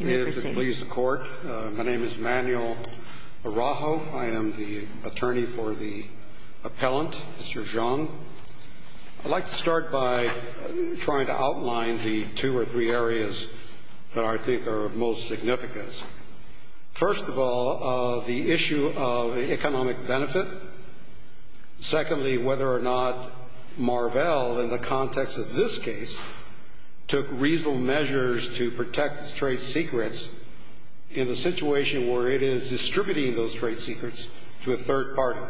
May it please the court. My name is Manuel Araujo. I am the attorney for the appellant, Mr. Zhang. I'd like to start by trying to outline the two or three areas that I think are of most significance. First of all, the issue of economic benefit. Secondly, whether or not Marvell, in the context of this case, took reasonable measures to protect its trade secrets in the situation where it is distributing those trade secrets to a third party.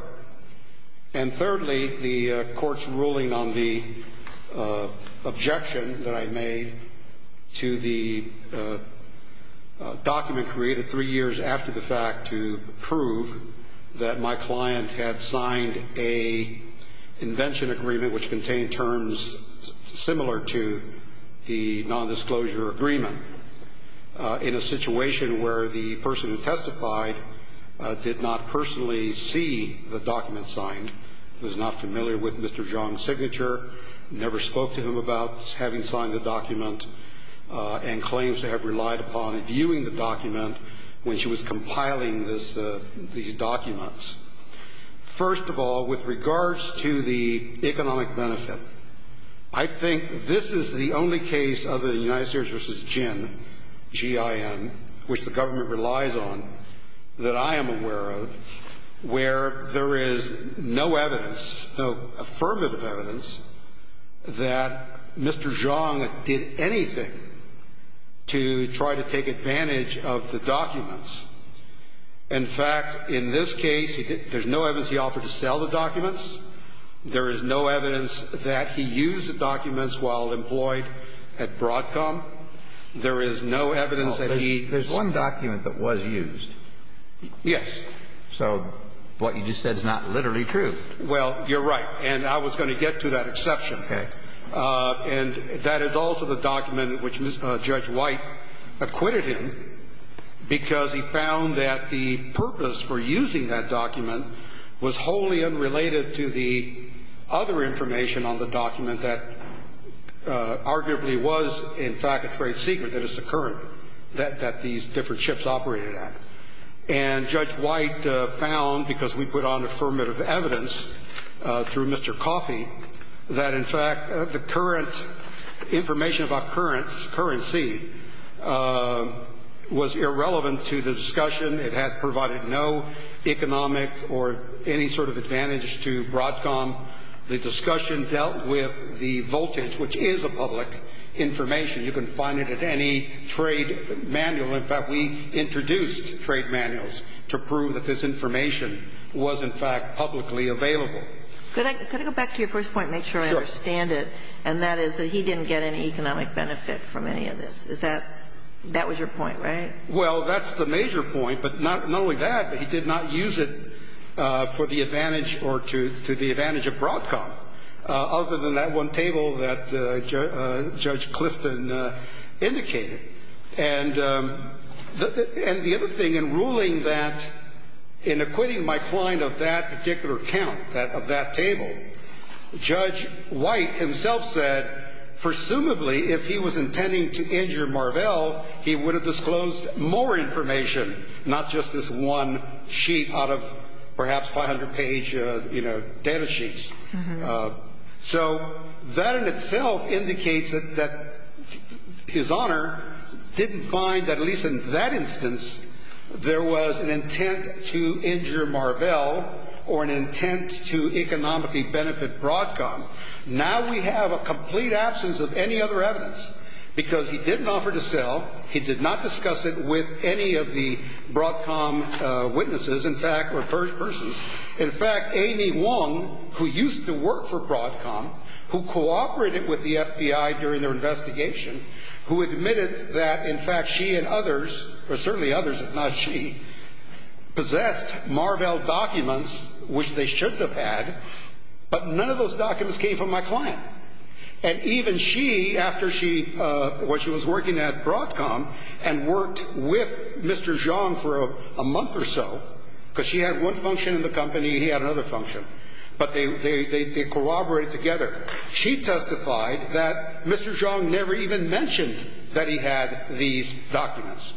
And thirdly, the court's ruling on the objection that I made to the document created three years after the fact to prove that my client had signed an invention agreement which contained terms similar to the nondisclosure agreement. In a situation where the person who testified did not personally see the document signed, was not familiar with Mr. Zhang's signature, never spoke to him about having signed the document, and claims to have relied upon viewing the document when she was compiling these documents. First of all, with regards to the economic benefit, I think this is the only case of the United States v. Jin, G-I-N, which the government relies on, that I am aware of, where there is no evidence, no affirmative evidence, that Mr. Zhang did anything to try to take advantage of the documents. In fact, in this case, there's no evidence he offered to sell the documents. There is no evidence that he used the documents while employed at Broadcom. There is no evidence that he used them. There's one document that was used. Yes. So what you just said is not literally true. Well, you're right. And I was going to get to that exception. Okay. And that is also the document which Judge White acquitted him because he found that the purpose for using that document was wholly unrelated to the other information on the document that arguably was, in fact, a trade secret that is the current that these different ships operated at. And Judge White found, because we put on affirmative evidence through Mr. Coffey, that, in fact, the current information about currency was irrelevant to the discussion. It had provided no economic or any sort of advantage to Broadcom. The discussion dealt with the voltage, which is a public information. You can find it at any trade manual. In fact, we introduced trade manuals to prove that this information was, in fact, publicly available. Could I go back to your first point and make sure I understand it? Sure. And that is that he didn't get any economic benefit from any of this. Is that – that was your point, right? Well, that's the major point, but not only that, but he did not use it for the advantage or to the advantage of Broadcom, other than that one table that Judge Clifton indicated. And the other thing, in ruling that – in acquitting my client of that particular count, of that table, Judge White himself said presumably if he was intending to injure Marvell, he would have disclosed more information, not just this one sheet out of perhaps 500-page, you know, data sheets. So that in itself indicates that his Honor didn't find that at least in that instance there was an intent to injure Marvell or an intent to economically benefit Broadcom. Now we have a complete absence of any other evidence because he didn't offer to sell. He did not discuss it with any of the Broadcom witnesses, in fact, or persons. In fact, Amy Wong, who used to work for Broadcom, who cooperated with the FBI during their investigation, who admitted that in fact she and others, or certainly others if not she, possessed Marvell documents, which they shouldn't have had, but none of those documents came from my client. And even she, after she – when she was working at Broadcom and worked with Mr. Zhang for a month or so, because she had one function in the company and he had another function, but they corroborated together, she testified that Mr. Zhang never even mentioned that he had these documents.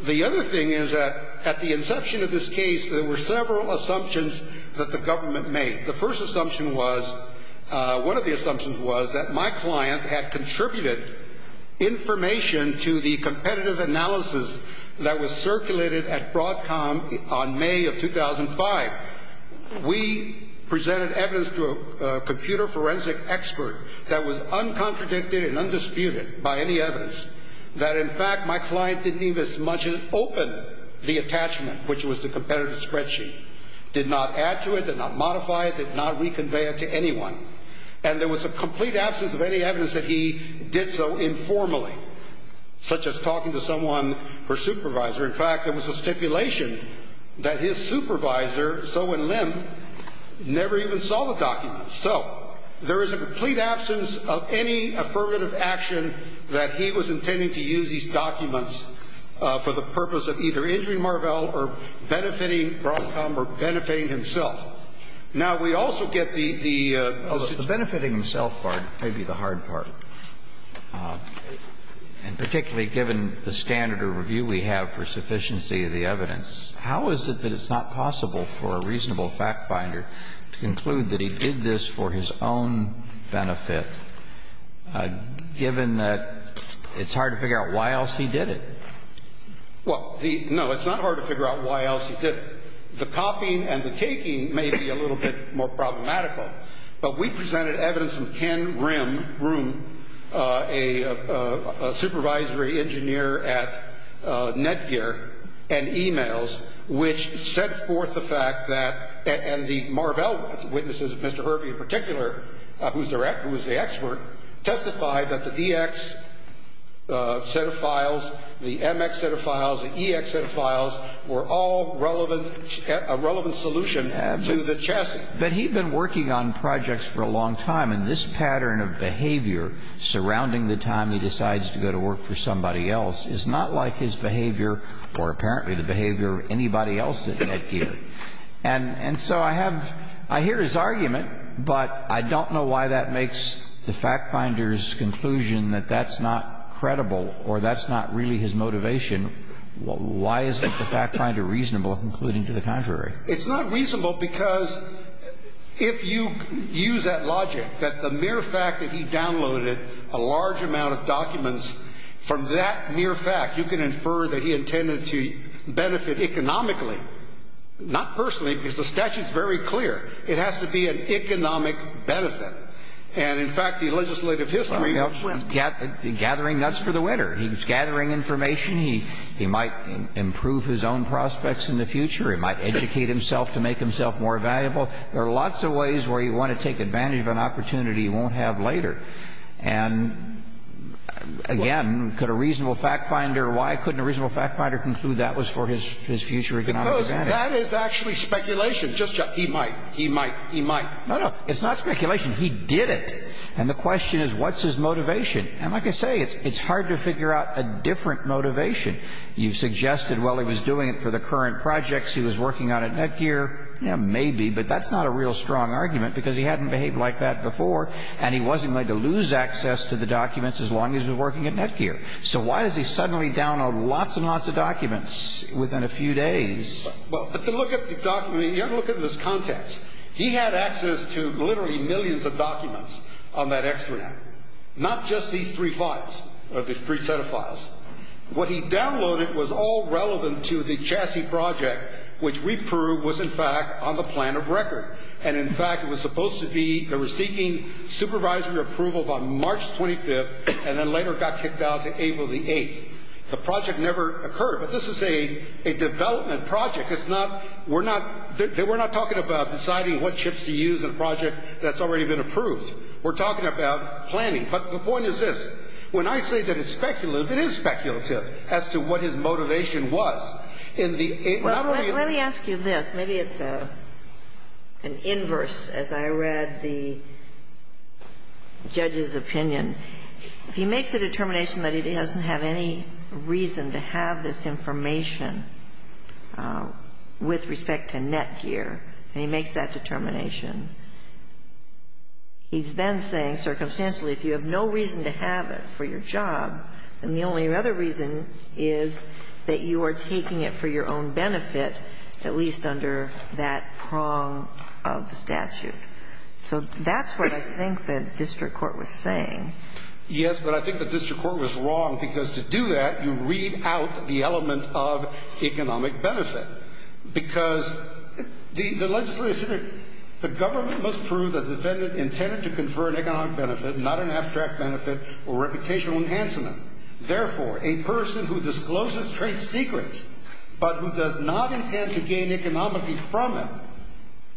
The other thing is that at the inception of this case, there were several assumptions that the government made. The first assumption was – one of the assumptions was that my client had contributed information to the competitive analysis that was circulated at Broadcom on May of 2005. We presented evidence to a computer forensic expert that was uncontradicted and undisputed by any evidence, that in fact my client didn't even as much as open the attachment, which was the competitive spreadsheet, did not add to it, did not modify it, did not reconvey it to anyone. And there was a complete absence of any evidence that he did so informally, such as talking to someone, her supervisor. In fact, there was a stipulation that his supervisor, Soh and Lim, never even saw the documents. So, there is a complete absence of any affirmative action that he was intending to use these documents for the purpose of either injuring Marvell or benefiting Broadcom or benefiting himself. Now, we also get the – The benefiting himself part may be the hard part. And particularly given the standard of review we have for sufficiency of the evidence, how is it that it's not possible for a reasonable fact finder to conclude that he did this for his own benefit, given that it's hard to figure out why else he did it? Well, the – no, it's not hard to figure out why else he did it. The copying and the taking may be a little bit more problematical. But we presented evidence from Ken Rimm, a supervisory engineer at Netgear and e-mails, which set forth the fact that – and the Marvell witnesses, Mr. Hervey in particular, who was the expert, testified that the DX set of files, the MX set of files, the EX set of files, were all relevant – a relevant solution to the chassis. But he'd been working on projects for a long time, and this pattern of behavior surrounding the time he decides to go to work for somebody else is not like his behavior or apparently the behavior of anybody else at Netgear. And so I have – I hear his argument, but I don't know why that makes the fact finder's conclusion that that's not credible or that's not really his motivation. Why isn't the fact finder reasonable in concluding to the contrary? It's not reasonable because if you use that logic, that the mere fact that he downloaded a large amount of documents from that mere fact, you can infer that he intended to benefit economically, not personally, because the statute's very clear. It has to be an economic benefit. And, in fact, the legislative history – Well, he's gathering nuts for the winter. He's gathering information. He might improve his own prospects in the future. He might educate himself to make himself more valuable. There are lots of ways where you want to take advantage of an opportunity you won't have later. And, again, could a reasonable fact finder – why couldn't a reasonable fact finder conclude that was for his future economic advantage? Because that is actually speculation. Just – he might. He might. He might. No, no. It's not speculation. He did it. And the question is, what's his motivation? And like I say, it's hard to figure out a different motivation. You've suggested, well, he was doing it for the current projects he was working on at Netgear. Yeah, maybe, but that's not a real strong argument because he hadn't behaved like that before and he wasn't going to lose access to the documents as long as he was working at Netgear. So why does he suddenly download lots and lots of documents within a few days? Well, but to look at the document – you have to look at it in this context. He had access to literally millions of documents on that extranet, not just these three files, these three set of files. What he downloaded was all relevant to the chassis project, which we proved was, in fact, on the plan of record. And, in fact, it was supposed to be – they were seeking supervisory approval by March 25th and then later got kicked out to April the 8th. The project never occurred. But this is a development project. It's not – we're not – we're not talking about deciding what chips to use in a project that's already been approved. We're talking about planning. But the point is this. When I say that it's speculative, it is speculative as to what his motivation was in the – Well, let me ask you this. Maybe it's an inverse, as I read the judge's opinion. If he makes a determination that he doesn't have any reason to have this information with respect to Netgear, and he makes that determination, he's then saying circumstantially if you have no reason to have it for your job, then the only other reason is that you are taking it for your own benefit, at least under that prong of the statute. So that's what I think the district court was saying. Yes, but I think the district court was wrong, because to do that, you read out the element of economic benefit. Because the legislature – the government must prove that the defendant intended to confer an economic benefit, not an abstract benefit or reputational enhancement. Therefore, a person who discloses trade secrets but who does not intend to gain economy from them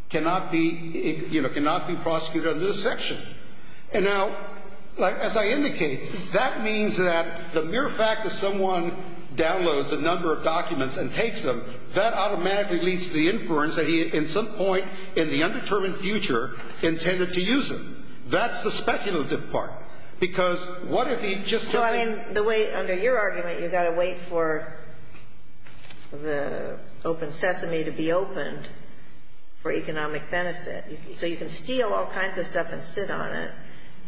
cannot be prosecuted under this section. And now, as I indicated, that means that the mere fact that someone downloads a number of documents and takes them, that automatically leads to the inference that he at some point in the undetermined future intended to use them. That's the speculative part. Because what if he just – So, I mean, the way – under your argument, you've got to wait for the open sesame to be opened for economic benefit. So you can steal all kinds of stuff and sit on it,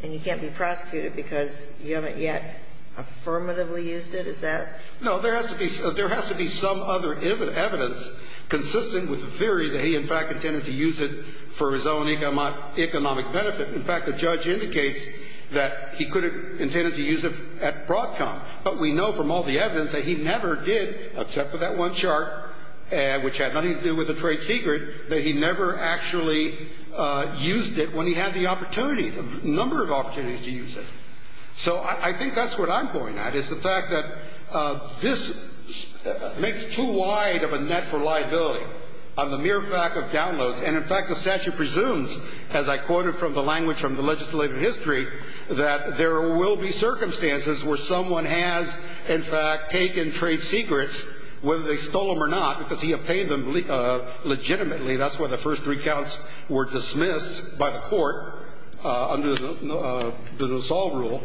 and you can't be prosecuted because you haven't yet affirmatively used it? Is that – No, there has to be – there has to be some other evidence consistent with the theory that he, in fact, intended to use it for his own economic benefit. In fact, the judge indicates that he could have intended to use it at Broadcom. But we know from all the evidence that he never did, except for that one chart, which had nothing to do with a trade secret, that he never actually used it when he had the opportunity, the number of opportunities to use it. So I think that's what I'm going at, is the fact that this makes too wide of a net for liability on the mere fact of downloads. And, in fact, the statute presumes, as I quoted from the language from the legislative history, that there will be circumstances where someone has, in fact, taken trade secrets, whether they stole them or not, because he obtained them legitimately. That's why the first three counts were dismissed by the court under the dissolve rule.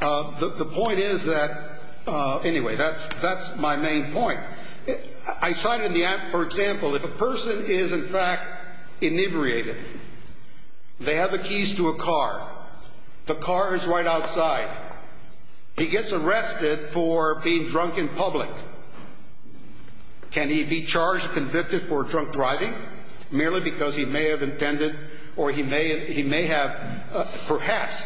The point is that – anyway, that's my main point. I cited the – for example, if a person is, in fact, inebriated, they have the keys to a car. The car is right outside. He gets arrested for being drunk in public. Can he be charged, convicted for drunk driving merely because he may have intended or he may have perhaps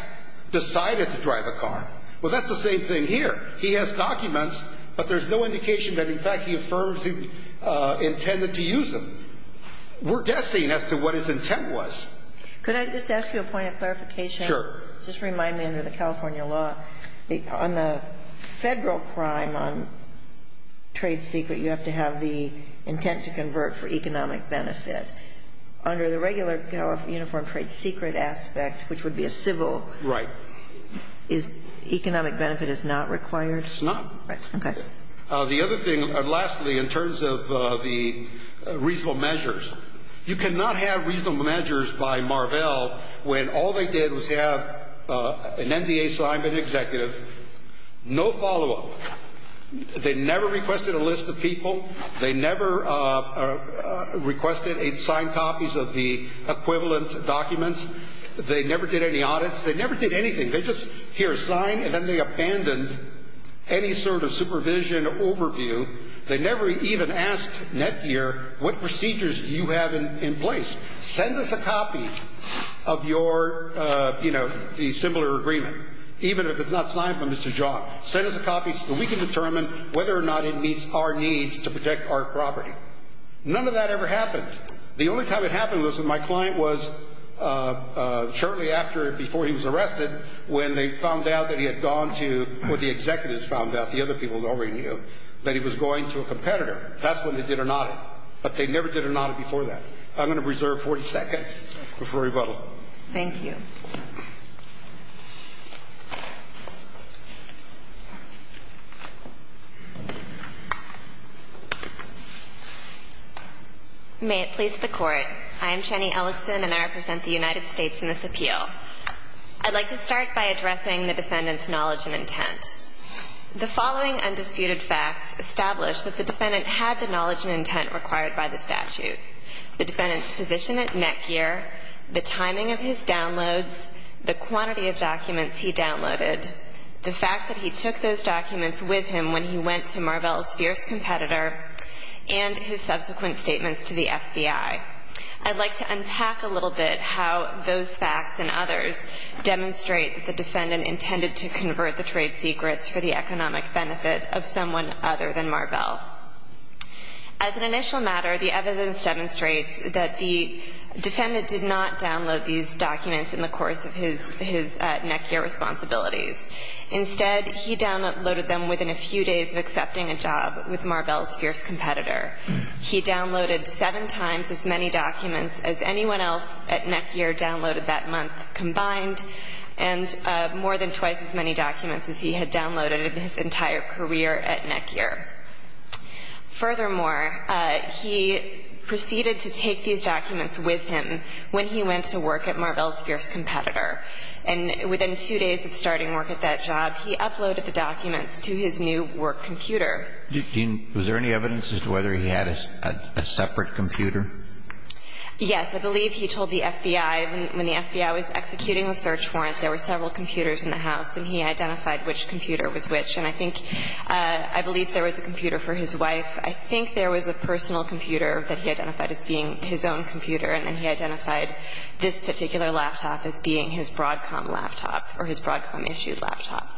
decided to drive a car? Well, that's the same thing here. He has documents, but there's no indication that, in fact, he affirms he intended to use them. We're guessing as to what his intent was. Could I just ask you a point of clarification? Sure. Just remind me, under the California law, on the Federal crime on trade secret, you have to have the intent to convert for economic benefit. Under the regular uniform trade secret aspect, which would be a civil – Right. Economic benefit is not required? It's not. Right. Okay. The other thing, lastly, in terms of the reasonable measures, you cannot have reasonable measures by Marvell when all they did was have an NDA signed by the executive, no follow-up. They never requested a list of people. They never requested a signed copies of the equivalent documents. They never did any audits. They never did anything. They just hear a sign, and then they abandoned any sort of supervision or overview. They never even asked Netgear, what procedures do you have in place? Send us a copy of your – the similar agreement, even if it's not signed by Mr. Jock. Send us a copy so we can determine whether or not it meets our needs to protect our property. None of that ever happened. The only time it happened was when my client was shortly after or before he was arrested when they found out that he had gone to – or the executives found out, the other people already knew, that he was going to a competitor. That's when they did an audit. But they never did an audit before that. I'm going to reserve 40 seconds before rebuttal. Thank you. May it please the Court. I am Shani Ellison, and I represent the United States in this appeal. I'd like to start by addressing the defendant's knowledge and intent. The following undisputed facts establish that the defendant had the knowledge and intent required by the statute. The defendant's position at Netgear, the timing of his downloads, the quantity of documents he downloaded, the fact that he took those documents with him when he went to Marvell's fierce competitor, and his subsequent statements to the FBI. I'd like to unpack a little bit how those facts and others demonstrate that the defendant intended to convert the trade secrets for the economic benefit of someone other than Marvell. As an initial matter, the evidence demonstrates that the defendant did not download these documents in the course of his Netgear responsibilities. Instead, he downloaded them within a few days of accepting a job with Marvell's fierce competitor. He downloaded seven times as many documents as anyone else at Netgear downloaded that month combined, and more than twice as many documents as he had downloaded in his entire career at Netgear. Furthermore, he proceeded to take these documents with him when he went to work at Marvell's fierce competitor. And within two days of starting work at that job, he uploaded the documents to his new work computer. Was there any evidence as to whether he had a separate computer? Yes. I believe he told the FBI. When the FBI was executing the search warrant, there were several computers in the house, and he identified which computer was which. And I think, I believe there was a computer for his wife. I think there was a personal computer that he identified as being his own computer, and then he identified this particular laptop as being his Broadcom laptop or his Broadcom-issued laptop.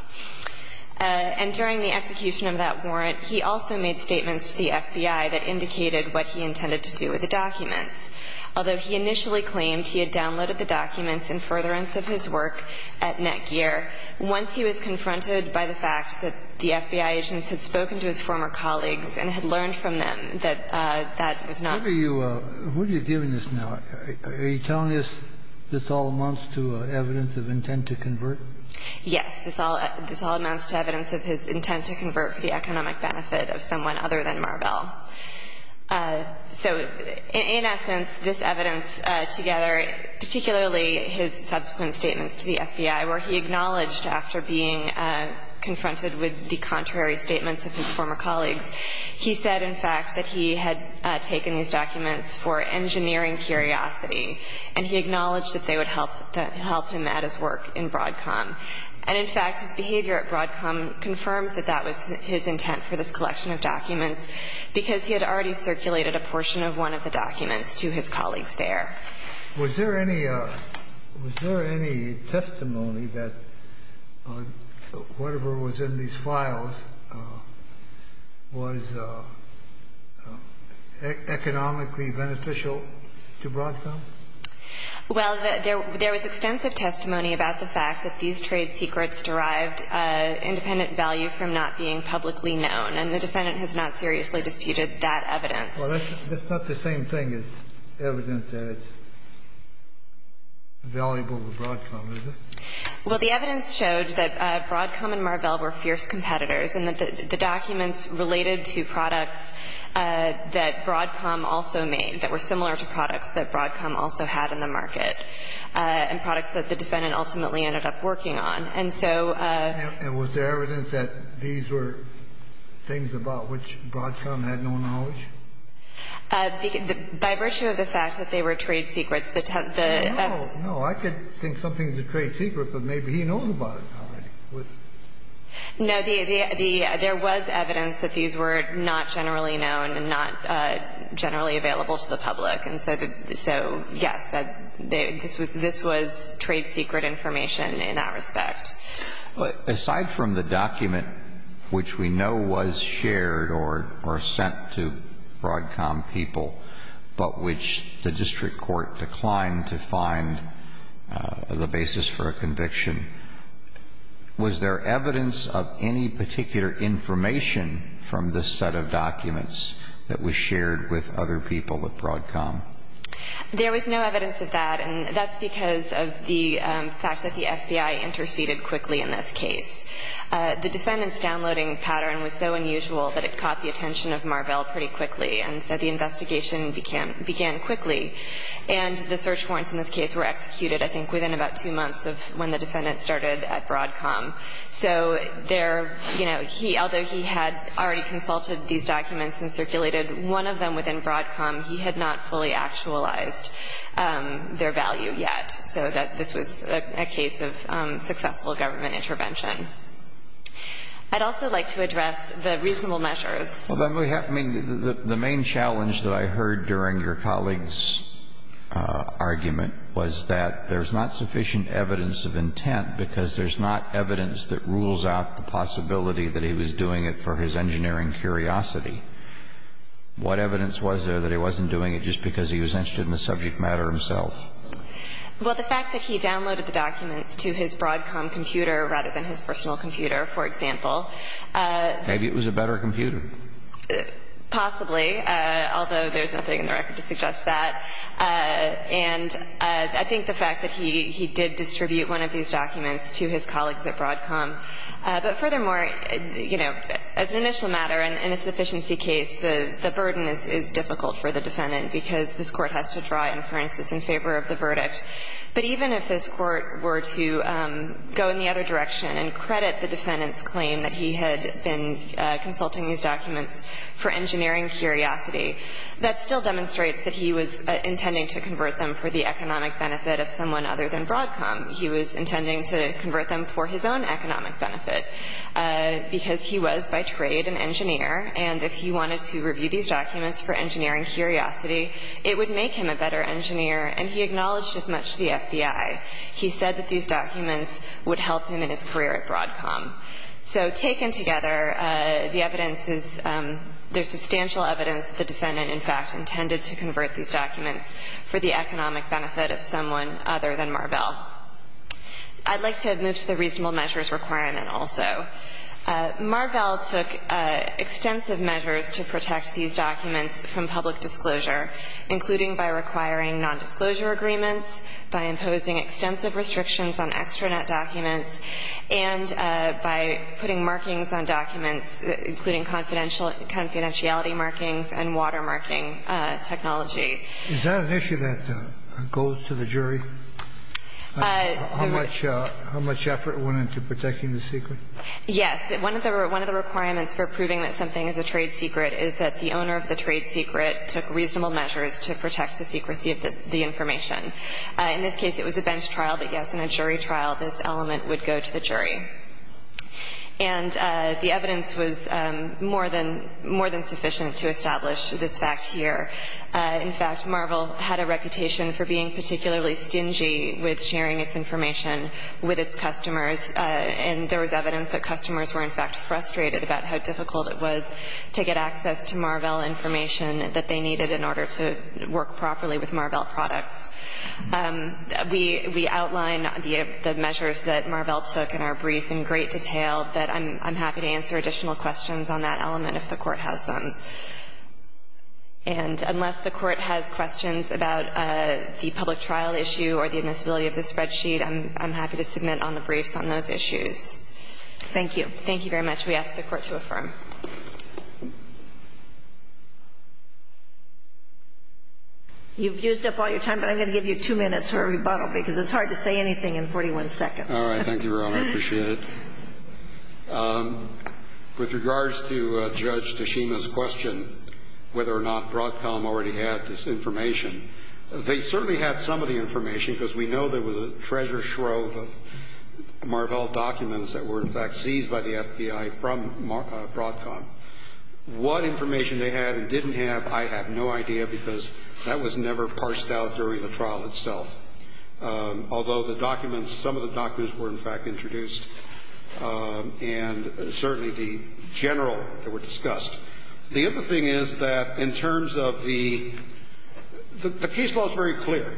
And during the execution of that warrant, he also made statements to the FBI that indicated what he intended to do with the documents. Although he initially claimed he had downloaded the documents in furtherance of his work at Netgear, once he was confronted by the fact that the FBI agents had spoken to his former colleagues and had learned from them that that was not the case. What are you giving us now? Are you telling us this all amounts to evidence of intent to convert? Yes. This all amounts to evidence of his intent to convert for the economic benefit of someone other than Marvell. So in essence, this evidence together, particularly his subsequent statements to the FBI, where he acknowledged after being confronted with the contrary statements of his former colleagues, he said, in fact, that he had taken these documents for engineering curiosity, and he acknowledged that they would help him at his work in Broadcom. And in fact, his behavior at Broadcom confirms that that was his intent for this collection of documents because he had already circulated a portion of one of the documents to his colleagues there. Was there any testimony that whatever was in these files was economically beneficial to Broadcom? Well, there was extensive testimony about the fact that these trade secrets derived independent value from not being publicly known, and the defendant has not seriously disputed that evidence. Well, that's not the same thing as evidence that it's valuable to Broadcom, is it? Well, the evidence showed that Broadcom and Marvell were fierce competitors and that the documents related to products that Broadcom also made that were similar to products that Broadcom also had in the market and products that the defendant ultimately ended up working on. And was there evidence that these were things about which Broadcom had no knowledge? By virtue of the fact that they were trade secrets. No, no. I could think something's a trade secret, but maybe he knows about it already. No. There was evidence that these were not generally known and not generally available to the public. And so, yes, this was trade secret information in that respect. Aside from the document, which we know was shared or sent to Broadcom people, but which the district court declined to find the basis for a conviction, was there evidence of any particular information from this set of documents that was shared with other people at Broadcom? There was no evidence of that. And that's because of the fact that the FBI interceded quickly in this case. The defendant's downloading pattern was so unusual that it caught the attention of Marvell pretty quickly, and so the investigation began quickly. And the search warrants in this case were executed, I think, within about two months of when the defendant started at Broadcom. So there, you know, he, although he had already consulted these documents and circulated one of them within Broadcom, he had not fully actualized their value yet, so that this was a case of successful government intervention. I'd also like to address the reasonable measures. Well, then we have to mean the main challenge that I heard during your colleague's argument was that there's not sufficient evidence of intent because there's not evidence that rules out the possibility that he was doing it for his engineering curiosity. What evidence was there that he wasn't doing it just because he was interested in the subject matter himself? Well, the fact that he downloaded the documents to his Broadcom computer rather than his personal computer, for example. Maybe it was a better computer. Possibly, although there's nothing in the record to suggest that. And I think the fact that he did distribute one of these documents to his colleagues at Broadcom, but furthermore, you know, as an initial matter in a sufficiency case, the burden is difficult for the defendant because this Court has to draw inferences in favor of the verdict. But even if this Court were to go in the other direction and credit the defendant's claim that he had been consulting these documents for engineering curiosity, that still demonstrates that he was intending to convert them for the economic benefit of someone other than Broadcom. He was intending to convert them for his own economic benefit because he was, by trade, an engineer, and if he wanted to review these documents for engineering curiosity, it would make him a better engineer, and he acknowledged as much to the FBI. He said that these documents would help him in his career at Broadcom. So taken together, the evidence is there's substantial evidence that the defendant in fact intended to convert these documents for the economic benefit of someone other than Marvell. I'd like to move to the reasonable measures requirement also. Marvell took extensive measures to protect these documents from public disclosure, including by requiring nondisclosure agreements, by imposing extensive restrictions on extranet documents, and by putting markings on documents, including confidentiality markings and watermarking technology. Is that an issue that goes to the jury, how much effort went into protecting the secret? Yes. One of the requirements for proving that something is a trade secret is that the owner of the trade secret took reasonable measures to protect the secrecy of the information. In this case, it was a bench trial, but, yes, in a jury trial, this element would go to the jury. And the evidence was more than sufficient to establish this fact here. In fact, Marvell had a reputation for being particularly stingy with sharing its information with its customers. And there was evidence that customers were in fact frustrated about how difficult it was to get access to Marvell information that they needed in order to work properly with Marvell products. We outline the measures that Marvell took in our brief in great detail, but I'm happy to answer additional questions on that element if the Court has them. And unless the Court has questions about the public trial issue or the admissibility of the spreadsheet, I'm happy to submit on the briefs on those issues. Thank you. Thank you very much. We ask the Court to affirm. You've used up all your time, but I'm going to give you two minutes for a rebuttal because it's hard to say anything in 41 seconds. All right. Thank you, Your Honor. I appreciate it. With regards to Judge Tashima's question, whether or not Broadcom already had this information, they certainly had some of the information because we know there was a treasure trove of Marvell documents that were in fact seized by the FBI from Broadcom. What information they had and didn't have, I have no idea because that was never parsed out during the trial itself. Although the documents, some of the documents were in fact introduced and certainly the general that were discussed. The other thing is that in terms of the case law is very clear.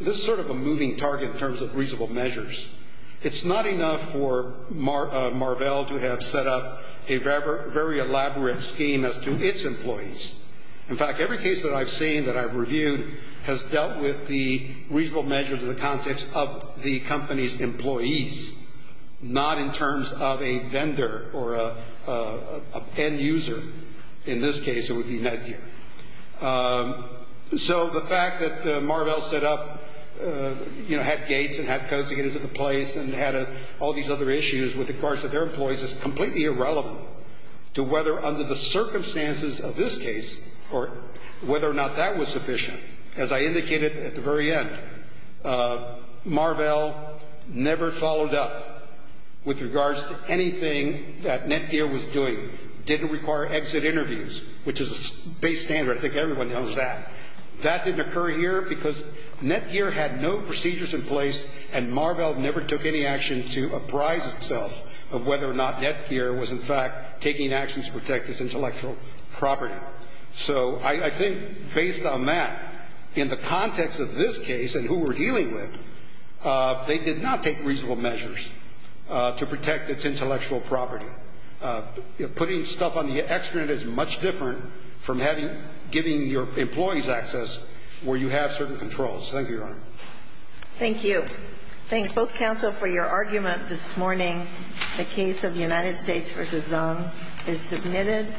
This is sort of a moving target in terms of reasonable measures. It's not enough for Marvell to have set up a very elaborate scheme as to its employees. In fact, every case that I've seen that I've reviewed has dealt with the reasonable measures in the context of the company's employees, not in terms of a vendor or an end user. In this case, it would be Netgear. So the fact that Marvell set up, you know, had gates and had codes to get into the place and had all these other issues with regards to their employees is completely irrelevant to whether under the circumstances of this case or whether or not that was sufficient. As I indicated at the very end, Marvell never followed up with regards to anything that Netgear was doing, didn't require exit interviews, which is a base standard. I think everyone knows that. That didn't occur here because Netgear had no procedures in place and Marvell never took any action to apprise itself of whether or not Netgear was in fact taking actions to protect its intellectual property. So I think based on that, in the context of this case and who we're dealing with, they did not take reasonable measures to protect its intellectual property. Putting stuff on the extranet is much different from giving your employees access where you have certain controls. Thank you, Your Honor. Thank you. Thank both counsel for your argument this morning. The case of United States v. Zung is submitted.